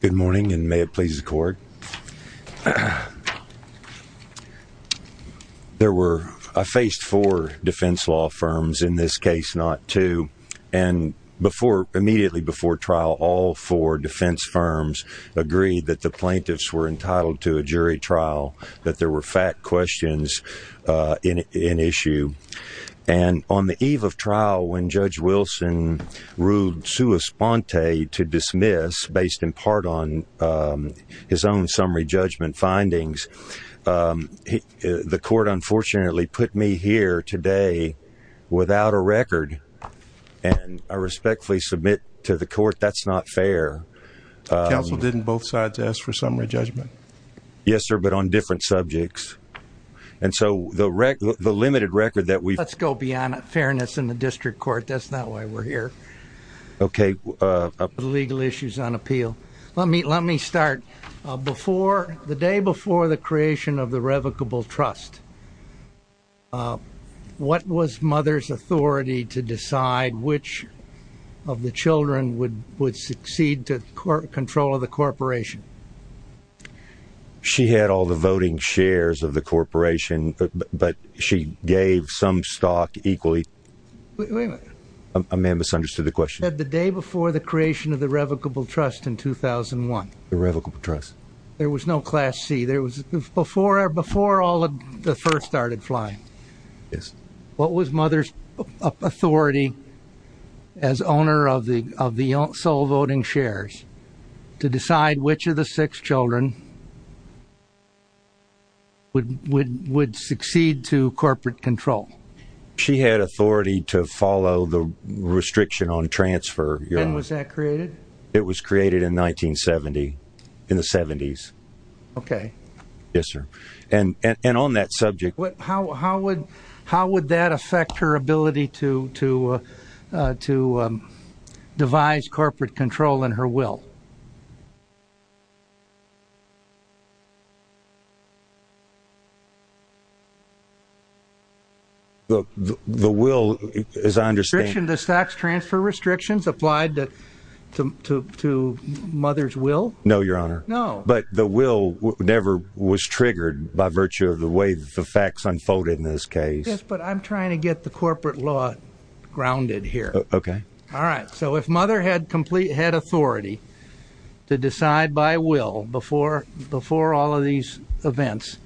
Good morning, and may it please the court. There were, I faced four defense law firms, in this case not two, and before, immediately before trial, all four defense firms agreed that the plaintiffs were entitled to a jury trial that there were fact questions in issue. And on the eve of trial, when Judge Wilson ruled sua sponte to dismiss, based in part on his own summary judgment findings, the court unfortunately put me here today without a record, and I respectfully submit to the court that's not fair. Counsel didn't both sides ask for summary judgment? Yes, sir, but on different subjects. And so, the limited record that we've- Let's go beyond fairness in the district court. That's not why we're here. Okay. Legal issues on appeal. Let me start. Before, the day before the creation of the revocable trust, what was mother's authority to decide which of the children would succeed to control of the corporation? She had all the voting shares of the corporation, but she gave some stock equally. Wait a minute. I may have misunderstood the question. You said the day before the creation of the revocable trust in 2001. The revocable trust. There was no class C. There was, before all of the first started flying. Yes. What was mother's authority as owner of the sole voting shares to decide which of the six children would succeed to corporate control? She had authority to follow the restriction on transfer. When was that created? It was created in 1970, in the 70s. Okay. Yes, sir. And on that subject- How would that affect her ability to devise corporate control in her will? The will, as I understand- Restriction to stocks transfer restrictions applied to mother's will? No, your honor. No. But the will never was triggered by virtue of the way the facts unfolded in this case. Yes, but I'm trying to get the corporate law grounded here. Okay. All right, so if mother had authority to decide by will before all of these events,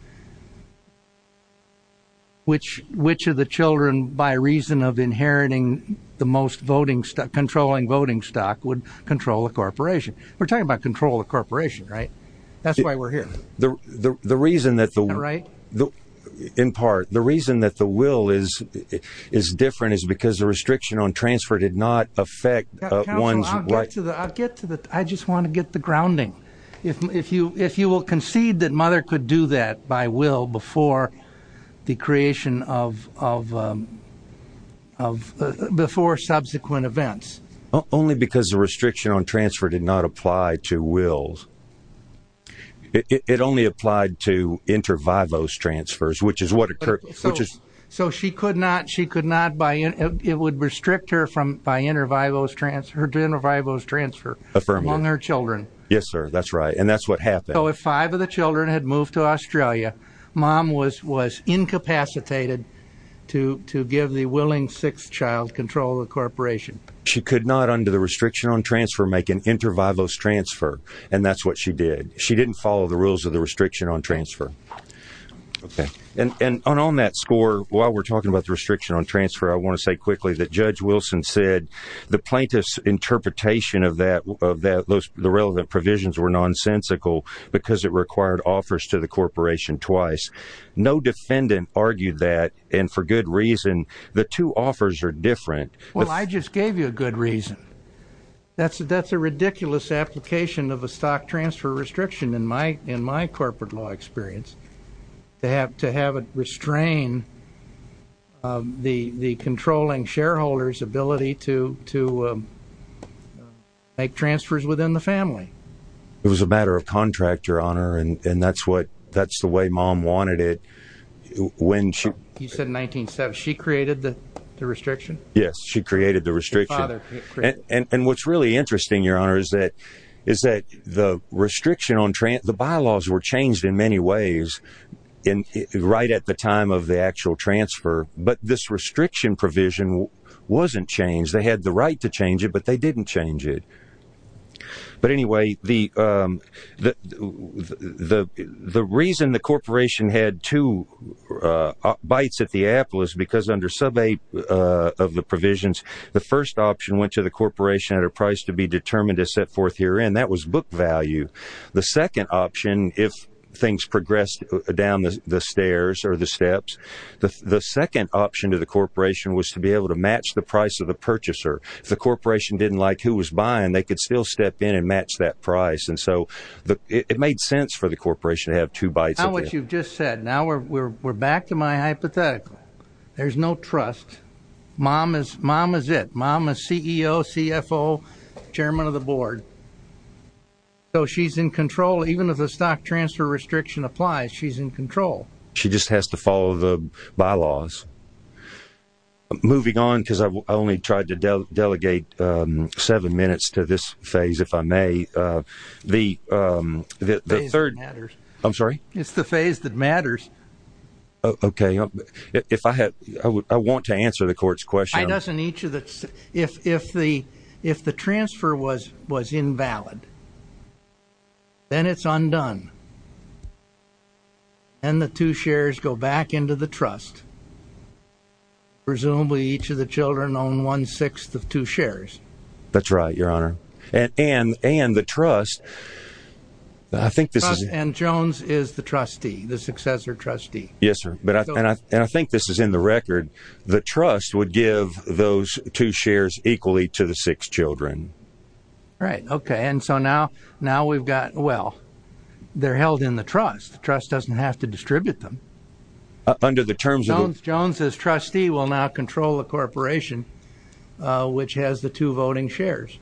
which of the children, by reason of inheriting the most controlling voting stock, would control the corporation? We're talking about control of the corporation, right? That's why we're here. Am I right? In part. The reason that the will is different is because the restriction on transfer did not affect Counsel, I'll get to the... I just want to get the grounding. If you will concede that mother could do that by will before the creation of... before subsequent events. Only because the restriction on transfer did not apply to wills. It only applied to inter vivos transfers, which is what... So she could not... it would restrict her from by inter vivos transfer... her inter vivos transfer. Affirmative. Among her children. Yes, sir. That's right. And that's what happened. So if five of the children had moved to Australia, mom was incapacitated to give the willing sixth child control of the corporation. She could not, under the restriction on transfer, make an inter vivos transfer, and that's what she did. She didn't follow the rules of the restriction on transfer. And on that score, while we're talking about the restriction on transfer, I want to say quickly that Judge Wilson said the plaintiff's interpretation of that... the relevant provisions were nonsensical because it required offers to the corporation twice. No defendant argued that, and for good reason. The two offers are different. Well, I just gave you a good reason. That's a ridiculous application of a stock transfer restriction in my corporate law experience, to have it restrain the controlling shareholder's ability to make transfers within the family. It was a matter of contractor honor, and that's what... that's the way mom wanted it when she... You said 19-7. Yes. She created the restriction. She created the restriction. And what's really interesting, Your Honor, is that the restriction on... the bylaws were changed in many ways right at the time of the actual transfer, but this restriction provision wasn't changed. They had the right to change it, but they didn't change it. But anyway, the reason the corporation had two bites at the apple is because under sub went to the corporation at a price to be determined to set forth herein. That was book value. The second option, if things progressed down the stairs or the steps, the second option to the corporation was to be able to match the price of the purchaser. If the corporation didn't like who was buying, they could still step in and match that price, and so it made sense for the corporation to have two bites at the apple. Now what you've just said, now we're back to my hypothetical. There's no trust. Mom is it. Mom is CEO, CFO, chairman of the board. So she's in control. Even if the stock transfer restriction applies, she's in control. She just has to follow the bylaws. Moving on, because I only tried to delegate seven minutes to this phase, if I may. The third... The phase that matters. I'm sorry? It's the phase that matters. Okay. If I had... I want to answer the court's question. Why doesn't each of the... If the transfer was invalid, then it's undone, and the two shares go back into the trust. Presumably each of the children own one-sixth of two shares. That's right, your honor. And the trust, I think this is- And Jones is the trustee, the successor trustee. Yes, sir. And I think this is in the record. The trust would give those two shares equally to the six children. Right. Okay. And so now we've got... Well, they're held in the trust. The trust doesn't have to distribute them. Under the terms of- Jones is trustee, will now control the corporation, which has the two voting shares.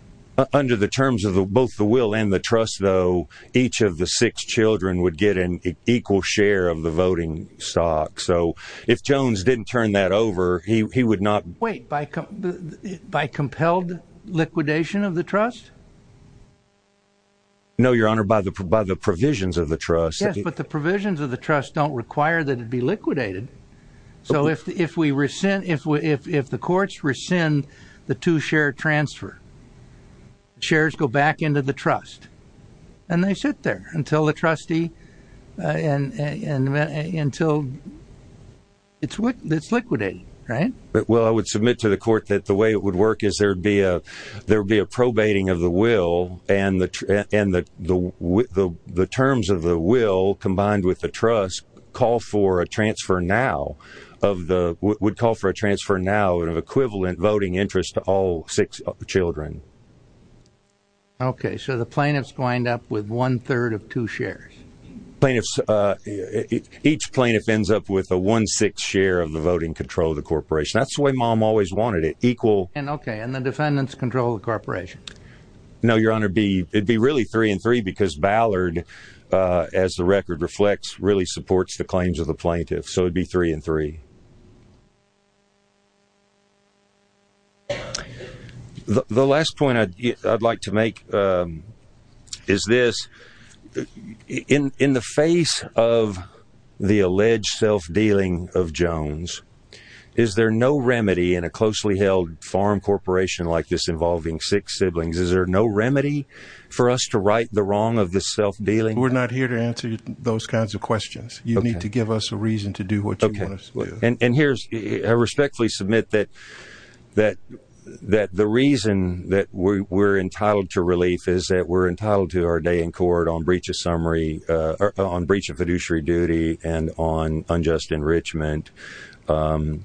Under the terms of both the will and the trust, though, each of the six children would get an equal share of the voting stock. So if Jones didn't turn that over, he would not- Wait. By compelled liquidation of the trust? No, your honor. By the provisions of the trust. Yes, but the provisions of the trust don't require that it be liquidated. So if the courts rescind the two-share transfer, shares go back into the trust, and they sit there until the trustee... Until it's liquidated, right? Well, I would submit to the court that the way it would work is there would be a probating of the will, and the terms of the will, combined with the trust, would call for a transfer now of equivalent voting interest to all six children. Okay. So the plaintiffs wind up with one-third of two shares. Plaintiffs... Each plaintiff ends up with a one-sixth share of the voting control of the corporation. That's the way mom always wanted it, equal- Okay. And the defendants control the corporation? No, your honor. It'd be really three and three, because Ballard, as the record reflects, really supports the claims of the plaintiffs. So it'd be three and three. Okay. The last point I'd like to make is this. In the face of the alleged self-dealing of Jones, is there no remedy in a closely held farm corporation like this involving six siblings? Is there no remedy for us to right the wrong of the self-dealing? We're not here to answer those kinds of questions. You need to give us a reason to do what you want us to do. And here's... I respectfully submit that the reason that we're entitled to relief is that we're entitled to our day in court on breach of summary... On breach of fiduciary duty and on unjust enrichment. The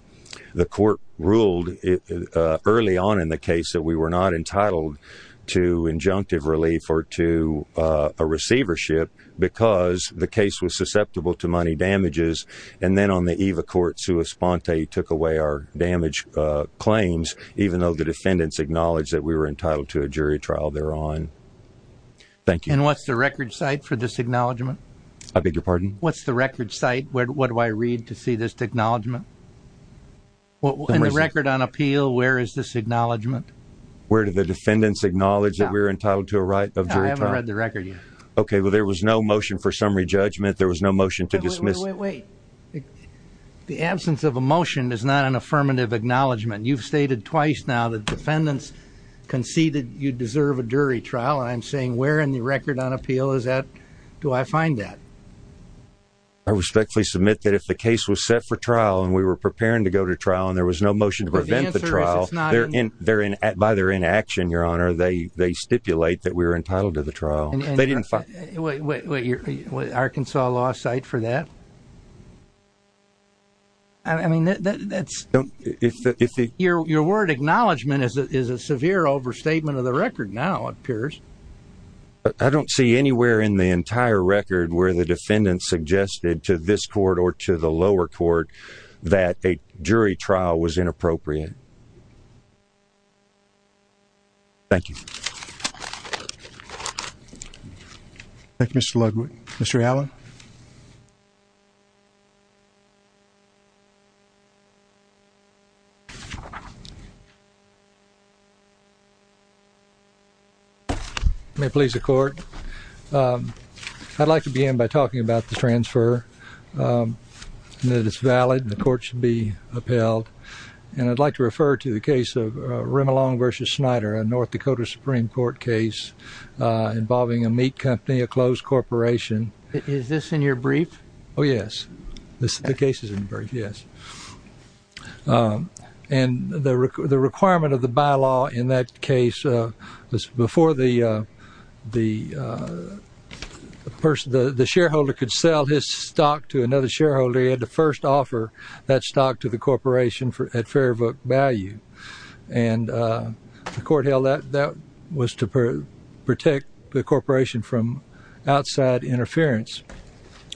court ruled early on in the case that we were not entitled to injunctive relief or to a receivership, because the case was susceptible to money damages. And then on the eve of court, Sue Esponte took away our damage claims, even though the defendants acknowledged that we were entitled to a jury trial thereon. Thank you. And what's the record site for this acknowledgment? I beg your pardon? What's the record site? What do I read to see this acknowledgment? In the record on appeal, where is this acknowledgment? Where did the defendants acknowledge that we were entitled to a right of jury trial? No, I haven't read the record yet. Okay. Well, there was no motion for summary judgment. There was no motion to dismiss... Wait, wait, wait, wait. The absence of a motion is not an affirmative acknowledgment. You've stated twice now that defendants conceded you deserve a jury trial, and I'm saying where in the record on appeal is that... Do I find that? I respectfully submit that if the case was set for trial and we were preparing to go to trial and there was no motion to prevent the trial, by their inaction, Your Honor, they stipulate that we were entitled to the trial. They didn't... Wait, wait, wait. Arkansas law site for that? I mean, that's... Your word acknowledgment is a severe overstatement of the record now, it appears. I don't see anywhere in the entire record where the defendants suggested to this court or to the lower court that a jury trial was inappropriate. Thank you. Thank you, Mr. Ludwig. Mr. Allen? May it please the court? I'd like to begin by talking about the transfer and that it's valid and the court should be upheld. And I'd like to refer to the case of Rimelong versus Snyder, a North Dakota Supreme Court case involving a meat company, a closed corporation. Is this in your brief? Oh, yes. The case is in the brief, yes. And the requirement of the bylaw in that case was before the shareholder could sell his stock to another shareholder, he had to first offer that stock to the corporation at fair vote value. And the court held that that was to protect the corporation from outside interference.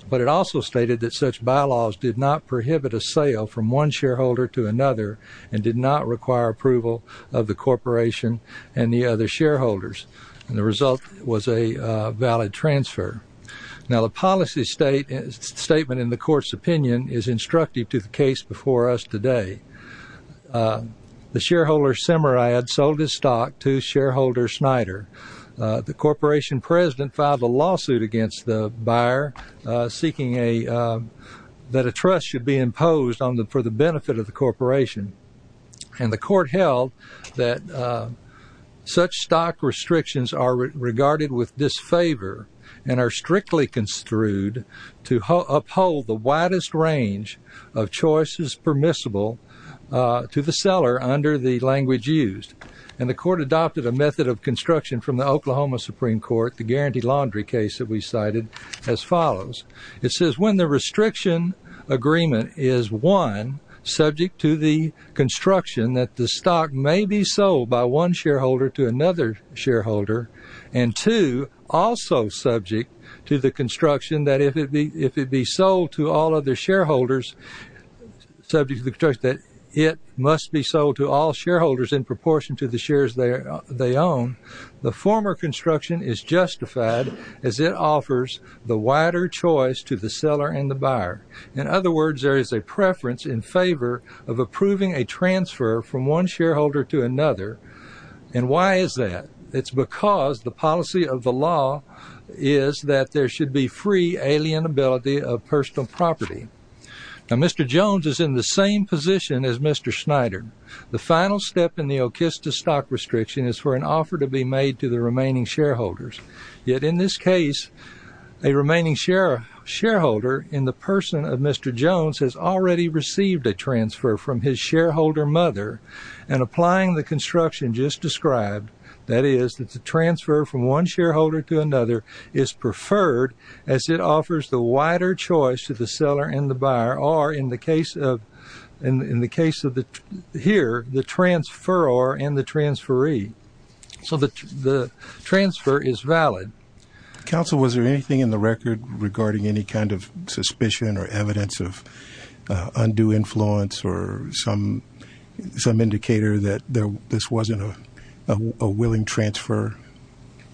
But it also stated that such bylaws did not prohibit a sale from one shareholder to another and did not require approval of the corporation and the other shareholders. And the result was a valid transfer. Now, the policy statement in the court's opinion is instructive to the case before us today. The shareholder Semerad sold his stock to shareholder Snyder. The corporation president filed a lawsuit against the buyer seeking that a trust should be imposed for the benefit of the corporation. And the court held that such stock restrictions are regarded with disfavor and are strictly construed to uphold the widest range of choices permissible to the seller under the language used. And the court adopted a method of construction from the Oklahoma Supreme Court, the Guaranteed Laundry case that we cited, as follows. It says, when the restriction agreement is, one, subject to the construction that the stock may be sold by one shareholder to another shareholder, and two, also subject to the construction that if it be sold to all other shareholders, subject to the construction that it must be sold to all shareholders in proportion to the shares they own, the former construction is justified as it offers the wider choice to the seller and the buyer. In other words, there is a preference in favor of approving a transfer from one shareholder to another. And why is that? It's because the policy of the law is that there should be free alienability of personal property. Now, Mr. Jones is in the same position as Mr. Schneider. The final step in the Okista stock restriction is for an offer to be made to the remaining shareholders. Yet, in this case, a remaining shareholder in the person of Mr. Jones has already received a transfer from his shareholder mother, and applying the construction just described, that is, that the transfer from one shareholder to another is preferred as it offers the wider choice to the seller and the buyer, or in the case of here, the transferor and the transferee. So the transfer is valid. Counsel, was there anything in the record regarding any kind of suspicion or evidence of undue influence or some indicator that this wasn't a willing transfer?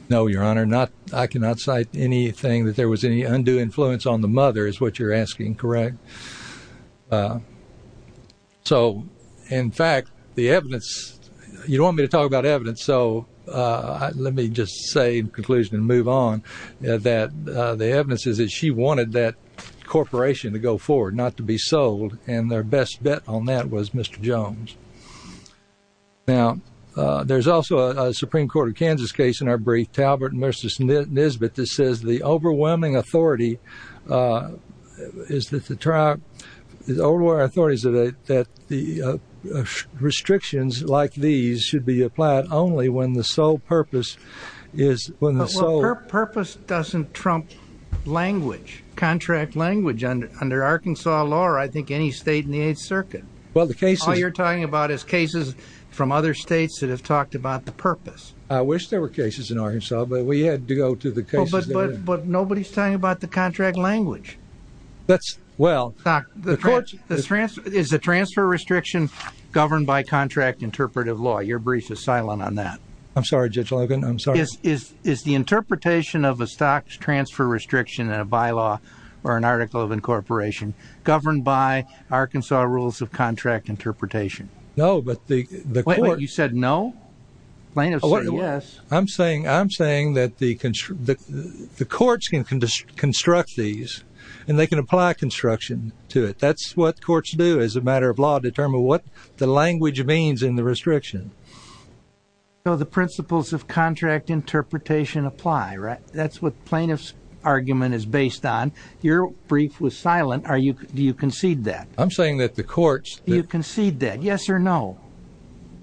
No, Your Honor, I cannot cite anything that there was any undue influence on the mother is what you're asking, correct? So, in fact, the evidence, you don't want me to talk about evidence, so let me just say in conclusion and move on, that the evidence is that she wanted that corporation to go forward, not to be sold, and their best bet on that was Mr. Jones. Now, there's also a Supreme Court of Kansas case in our brief, Talbert v. Nisbet, that says the overwhelming authority is that the restrictions like these should be applied only when the sole purpose is... Well, purpose doesn't trump language, contract language under Arkansas law or I think any state in the Eighth Circuit. Well, the cases... All you're talking about is cases from other states that have talked about the purpose. I wish there were cases in Arkansas, but we had to go to the cases... But nobody's talking about the contract language. That's... Well... Doc, is the transfer restriction governed by contract interpretive law? Your brief is silent on that. I'm sorry, Judge Logan, I'm sorry. Is the interpretation of a stock transfer restriction in a bylaw or an article of incorporation governed by Arkansas rules of contract interpretation? No, but the court... Wait, wait, you said no? Plaintiffs say yes. I'm saying that the courts can construct these, and they can apply construction to it. That's what courts do as a matter of law, determine what the language means in the restriction. So the principles of contract interpretation apply, right? That's what plaintiff's argument is based on. Your brief was silent. Do you concede that? I'm saying that the courts... Do you concede that, yes or no?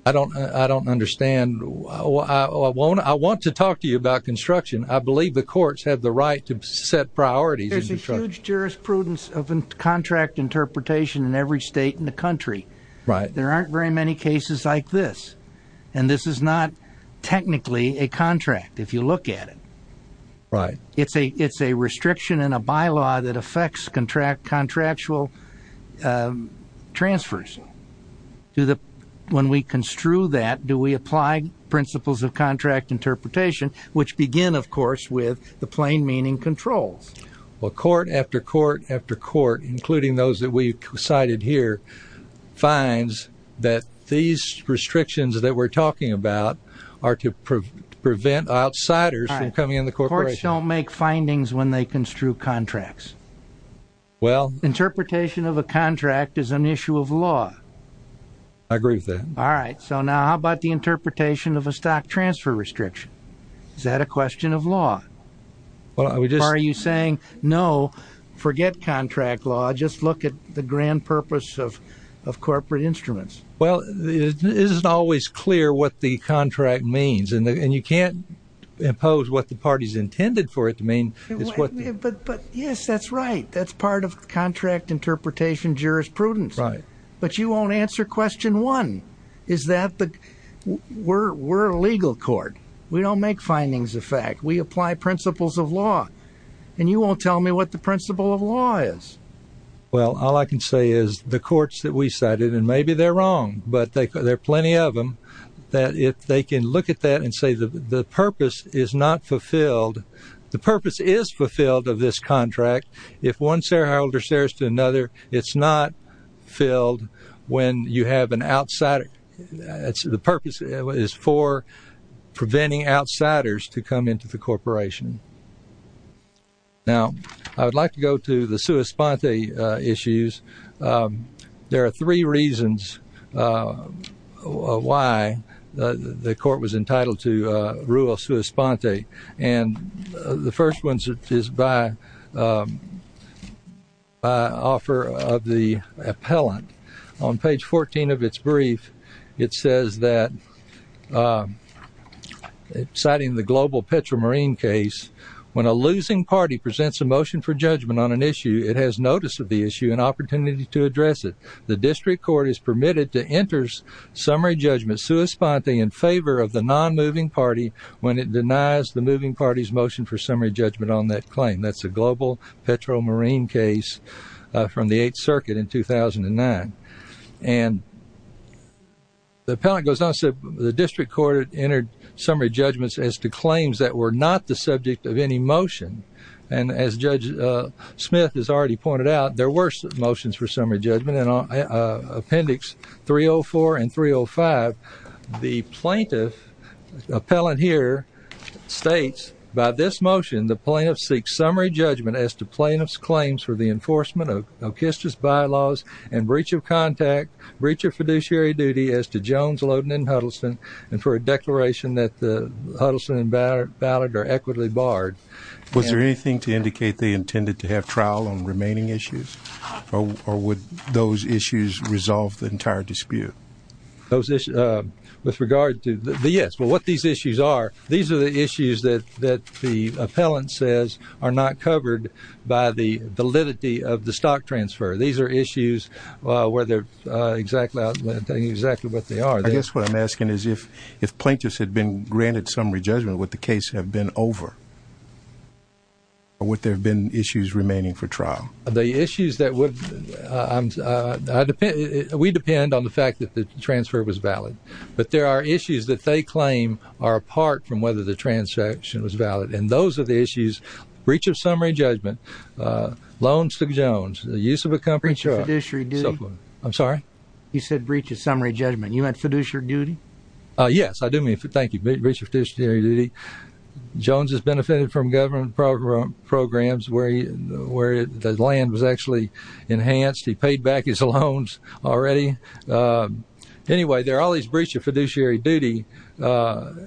I don't understand. I want to talk to you about construction. I believe the courts have the right to set priorities. There's a huge jurisprudence of contract interpretation in every state in the country. There aren't very many cases like this. And this is not technically a contract, if you look at it. Right. It's a restriction in a bylaw that affects contractual transfers. When we construe that, do we apply principles of contract interpretation, which begin, of course, with the plain meaning controls? Well, court after court after court, including those that we cited here, finds that these restrictions that we're talking about are to prevent outsiders from coming in the corporation. Courts don't make findings when they construe contracts. Well... Interpretation of a contract is an issue of law. I agree with that. All right. So now how about the interpretation of a stock transfer restriction? Is that a question of law? Or are you saying, no, forget contract law. Just look at the grand purpose of corporate instruments. Well, it isn't always clear what the contract means. And you can't impose what the party's intended for it to mean. But, yes, that's right. That's part of contract interpretation jurisprudence. Right. But you won't answer question one. Is that the... We're a legal court. We don't make findings of fact. We apply principles of law. And you won't tell me what the principle of law is. Well, all I can say is the courts that we cited, and maybe they're wrong, but there are plenty of them, that if they can look at that and say the purpose is not fulfilled. The purpose is fulfilled of this contract. If one shareholder shares to another, it's not filled when you have an outsider... The purpose is for preventing outsiders to come into the corporation. Now, I would like to go to the sua sponte issues. There are three reasons why the court was entitled to rule sua sponte. And the first one is by offer of the appellant. On page 14 of its brief, it says that, citing the global petromarine case, when a losing party presents a motion for judgment on an issue, it has notice of the issue and opportunity to address it. The district court is permitted to enter summary judgment sua sponte in favor of the non-moving party when it denies the moving party's motion for summary judgment on that claim. That's a global petromarine case from the 8th Circuit in 2009. And the appellant goes on to say the district court entered summary judgments as to claims that were not the subject of any motion. And as Judge Smith has already pointed out, there were motions for summary judgment in Appendix 304 and 305. The plaintiff, appellant here, states, by this motion, the plaintiff seeks summary judgment as to plaintiff's claims for the enforcement of Okistra's bylaws and breach of contact, breach of fiduciary duty as to Jones, Loden, and Huddleston, and for a declaration that the Huddleston and Ballard are equitably barred. Was there anything to indicate they intended to have trial on remaining issues? Or would those issues resolve the entire dispute? Those issues, with regard to, yes, but what these issues are, these are the issues that the appellant says are not covered by the validity of the stock transfer. These are issues where they're exactly what they are. I guess what I'm asking is if plaintiffs had been granted summary judgment, would the case have been over? Or would there have been issues remaining for trial? The issues that would, we depend on the fact that the transfer was valid, but there are issues that they claim are apart from whether the transaction was valid, and those are the issues, breach of summary judgment, loans to Jones, the use of a company, breach of fiduciary duty, I'm sorry? You said breach of summary judgment, you meant fiduciary duty? Yes, I do mean, thank you, breach of fiduciary duty. Jones has benefitted from government programs where the land was actually enhanced. He paid back his loans already. Anyway, there are all these breach of fiduciary duty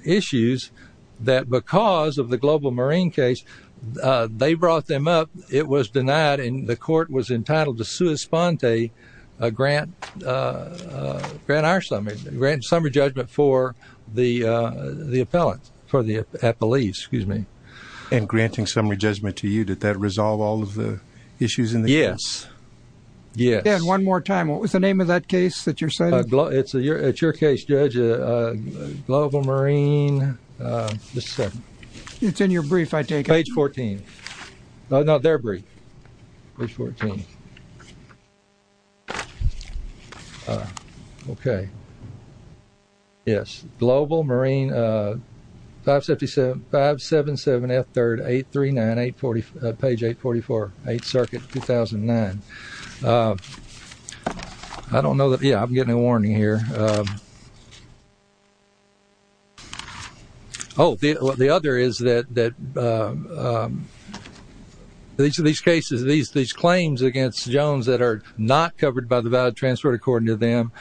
issues that because of the global marine case, they brought them up, it was denied, and the court was entitled to sui sponte, grant our summary, grant summary judgment for the appellant, for the appellee, excuse me. And granting summary judgment to you, did that resolve all of the issues in the case? Yes, yes. And one more time, what was the name of that case that you're citing? It's your case, Judge, Global Marine, this is it. It's in your brief, I take it. Page 14, no, not their brief, page 14. Okay. Yes, Global Marine, 577F3, 839, page 844, 8th Circuit, 2009. I don't know, yeah, I'm getting a warning here. Oh, the other is that these cases, these claims against Jones that are not covered by the valid transfer, according to them,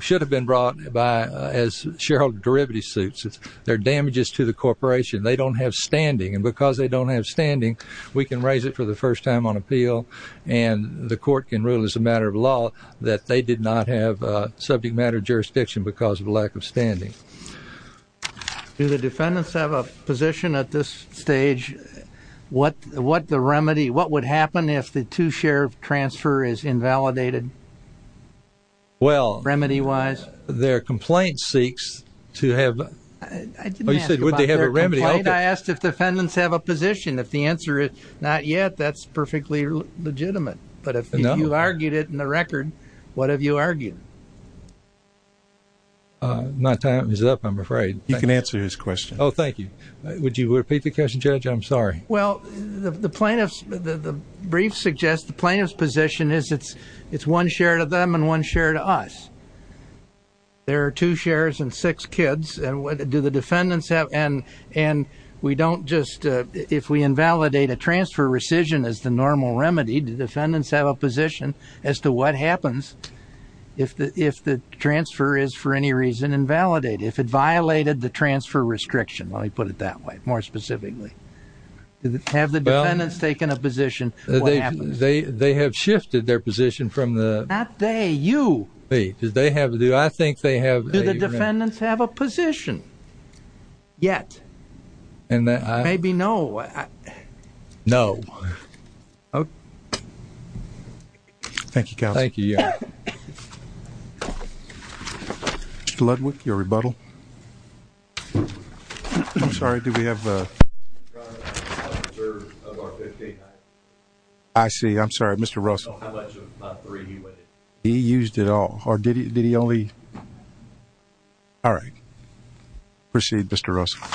should have been brought as shareholder derivative suits. They're damages to the corporation. They don't have standing, and because they don't have standing, we can raise it for the first time on appeal, and the court can rule as a matter of law that they did not have subject matter jurisdiction because of a lack of standing. Do the defendants have a position at this stage? What the remedy, what would happen if the two-share transfer is invalidated, remedy-wise? Well, their complaint seeks to have, oh, you said would they have a remedy? I asked if the defendants have a position. If the answer is not yet, that's perfectly legitimate, but if you argued it in the record, what have you argued? My time is up, I'm afraid. You can answer his question. Oh, thank you. Would you repeat the question, Judge? I'm sorry. Well, the plaintiff's, the brief suggests the plaintiff's position is it's one share to them and one share to us. There are two shares and six kids. Do the defendants have, and we don't just, if we invalidate a transfer rescission as the normal remedy, do defendants have a position as to what happens if the transfer is for any reason invalidated? If it violated the transfer restriction, let me put it that way, more specifically. Have the defendants taken a position, what happens? They have shifted their position from the- Not they, you. I think they have- Do the defendants have a position? Yet. Maybe no. No. Thank you, counsel. Thank you, Your Honor. Mr. Ludwick, your rebuttal. I'm sorry, do we have- I see, I'm sorry, Mr. Russell. He used it all, or did he only- All right. Proceed, Mr. Russell.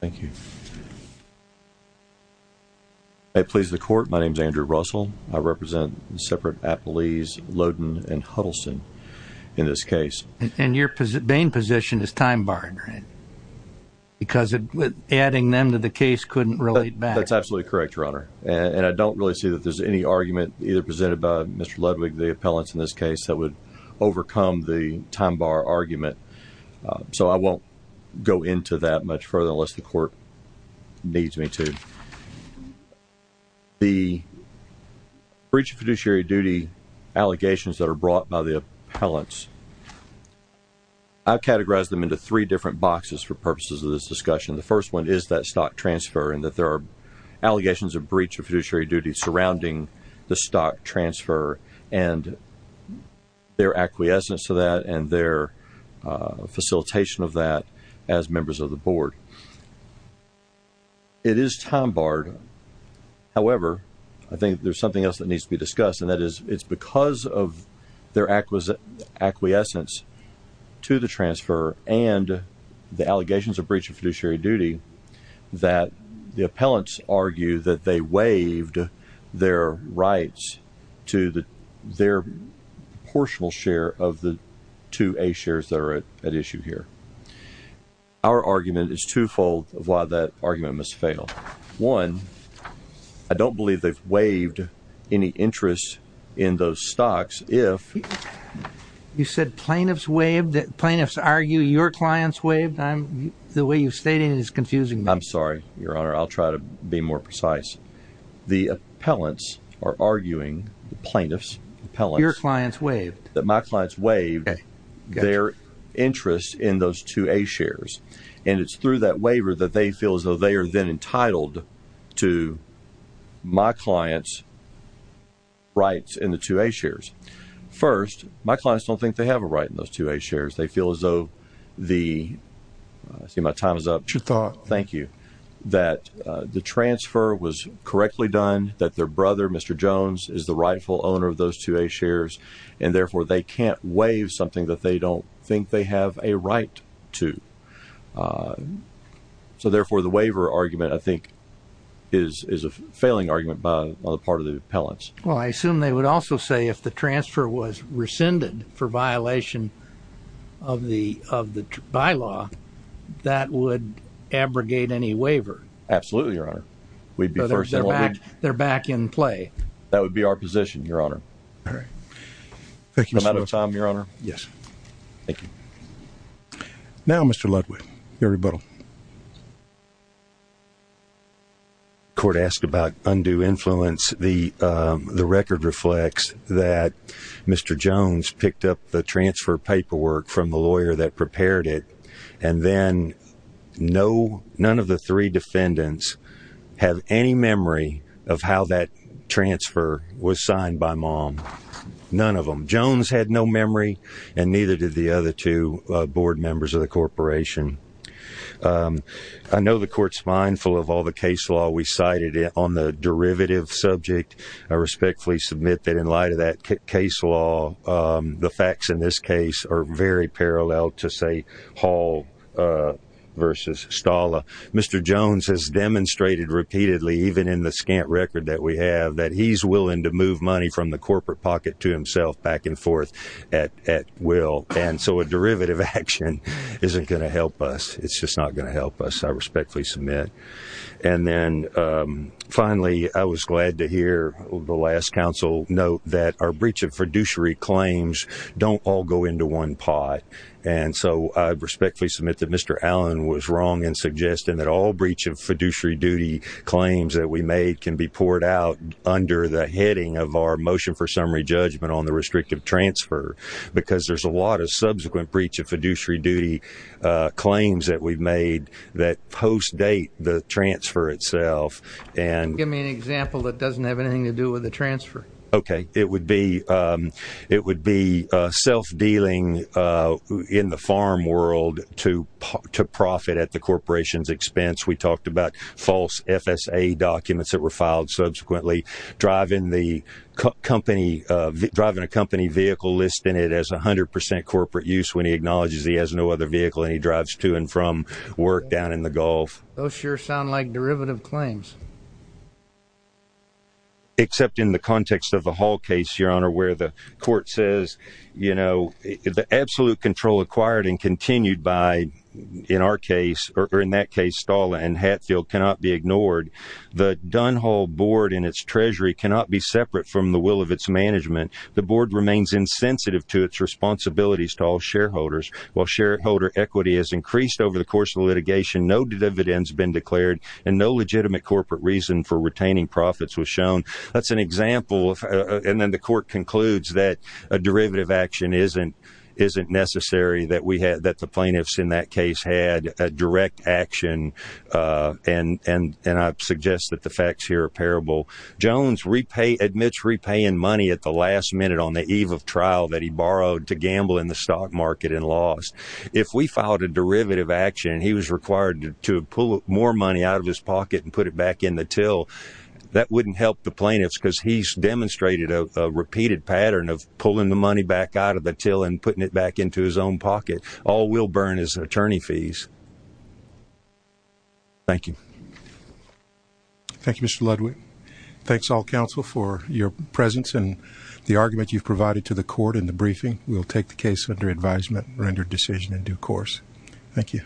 Thank you. May it please the court, my name is Andrew Russell. I represent the separate appellees, Loden and Huddleston, in this case. And your Bain position is time barred, right? Because adding them to the case couldn't relate back. That's absolutely correct, Your Honor. And I don't really see that there's any argument either presented by Mr. Ludwick, the appellants in this case, that would overcome the time bar argument. So I won't go into that much further unless the court needs me to. The breach of fiduciary duty allegations that are brought by the appellants, I've categorized them into three different boxes for purposes of this discussion. The first one is that stock transfer and that there are allegations of breach of fiduciary duty surrounding the stock transfer and their acquiescence to that and their facilitation of that as members of the board. It is time barred. However, I think there's something else that needs to be discussed, and that is it's because of their acquiescence to the transfer and the allegations of breach of fiduciary duty that the appellants argue that they waived their rights to their proportional share of the two A shares that are at issue here. Our argument is two-fold of why that argument must fail. One, I don't believe they've waived any interest in those stocks if... You said plaintiffs waived? Plaintiffs argue your clients waived? The way you've stated it is confusing me. I'm sorry, Your Honor. I'll try to be more precise. The appellants are arguing, the plaintiffs, appellants... Your clients waived. That my clients waived their interest in those two A shares. And it's through that waiver that they feel as though they are then entitled to my clients' rights in the two A shares. First, my clients don't think they have a right in those two A shares. They feel as though the... I see my time is up. It's your thought. Thank you. That the transfer was correctly done, that their brother, Mr. Jones, is the rightful owner of those two A shares, and, therefore, they can't waive something that they don't think they have a right to. So, therefore, the waiver argument, I think, is a failing argument on the part of the appellants. Well, I assume they would also say if the transfer was rescinded for violation of the bylaw, that would abrogate any waiver. Absolutely, Your Honor. We'd be first in line. They're back in play. That would be our position, Your Honor. All right. Thank you, Mr. Lewis. Am I out of time, Your Honor? Yes. Thank you. Now, Mr. Ludwig, your rebuttal. The court asked about undue influence. The record reflects that Mr. Jones picked up the transfer paperwork from the lawyer that prepared it, and then none of the three defendants have any memory of how that transfer was signed by Mom. None of them. Jones had no memory, and neither did the other two board members of the corporation. I know the court's mindful of all the case law we cited on the derivative subject. I respectfully submit that in light of that case law, the facts in this case are very parallel to, say, Hall v. Stala. Mr. Jones has demonstrated repeatedly, even in the scant record that we have, that he's willing to move money from the corporate pocket to himself back and forth at will. And so a derivative action isn't going to help us. It's just not going to help us. I respectfully submit. And then, finally, I was glad to hear the last counsel note that our breach of fiduciary claims don't all go into one pot. And so I respectfully submit that Mr. Allen was wrong in suggesting that all breach of fiduciary duty claims that we made can be poured out under the heading of our motion for summary judgment on the restrictive transfer, because there's a lot of subsequent breach of fiduciary duty claims that we've made that post-date the transfer itself. Give me an example that doesn't have anything to do with the transfer. Okay. It would be self-dealing in the farm world to profit at the corporation's expense. We talked about false FSA documents that were filed subsequently driving a company vehicle listing it as 100% corporate use when he acknowledges he has no other vehicle and he drives to and from work down in the Gulf. Those sure sound like derivative claims. Except in the context of the Hall case, Your Honor, where the court says, you know, the absolute control acquired and continued by, in our case, or in that case, Stahl and Hatfield, cannot be ignored. The Dunhall board and its treasury cannot be separate from the will of its management. The board remains insensitive to its responsibilities to all shareholders. While shareholder equity has increased over the course of litigation, no dividends have been declared and no legitimate corporate reason for retaining profits was shown. That's an example. And then the court concludes that a derivative action isn't necessary that the plaintiffs in that case had a direct action and I suggest that the facts here are parable. Jones admits repaying money at the last minute on the eve of trial that he borrowed to gamble in the stock market and lost. If we filed a derivative action and he was required to pull more money out of his pocket and put it back in the till, that wouldn't help the plaintiffs because he's demonstrated a repeated pattern of pulling the money back out of the till and putting it back into his own pocket. All we'll burn is attorney fees. Thank you. Thank you, Mr. Ludwig. Thanks, all counsel, for your presence and the argument you've provided to the court in the briefing. We'll take the case under advisement rendered decision in due course. Thank you.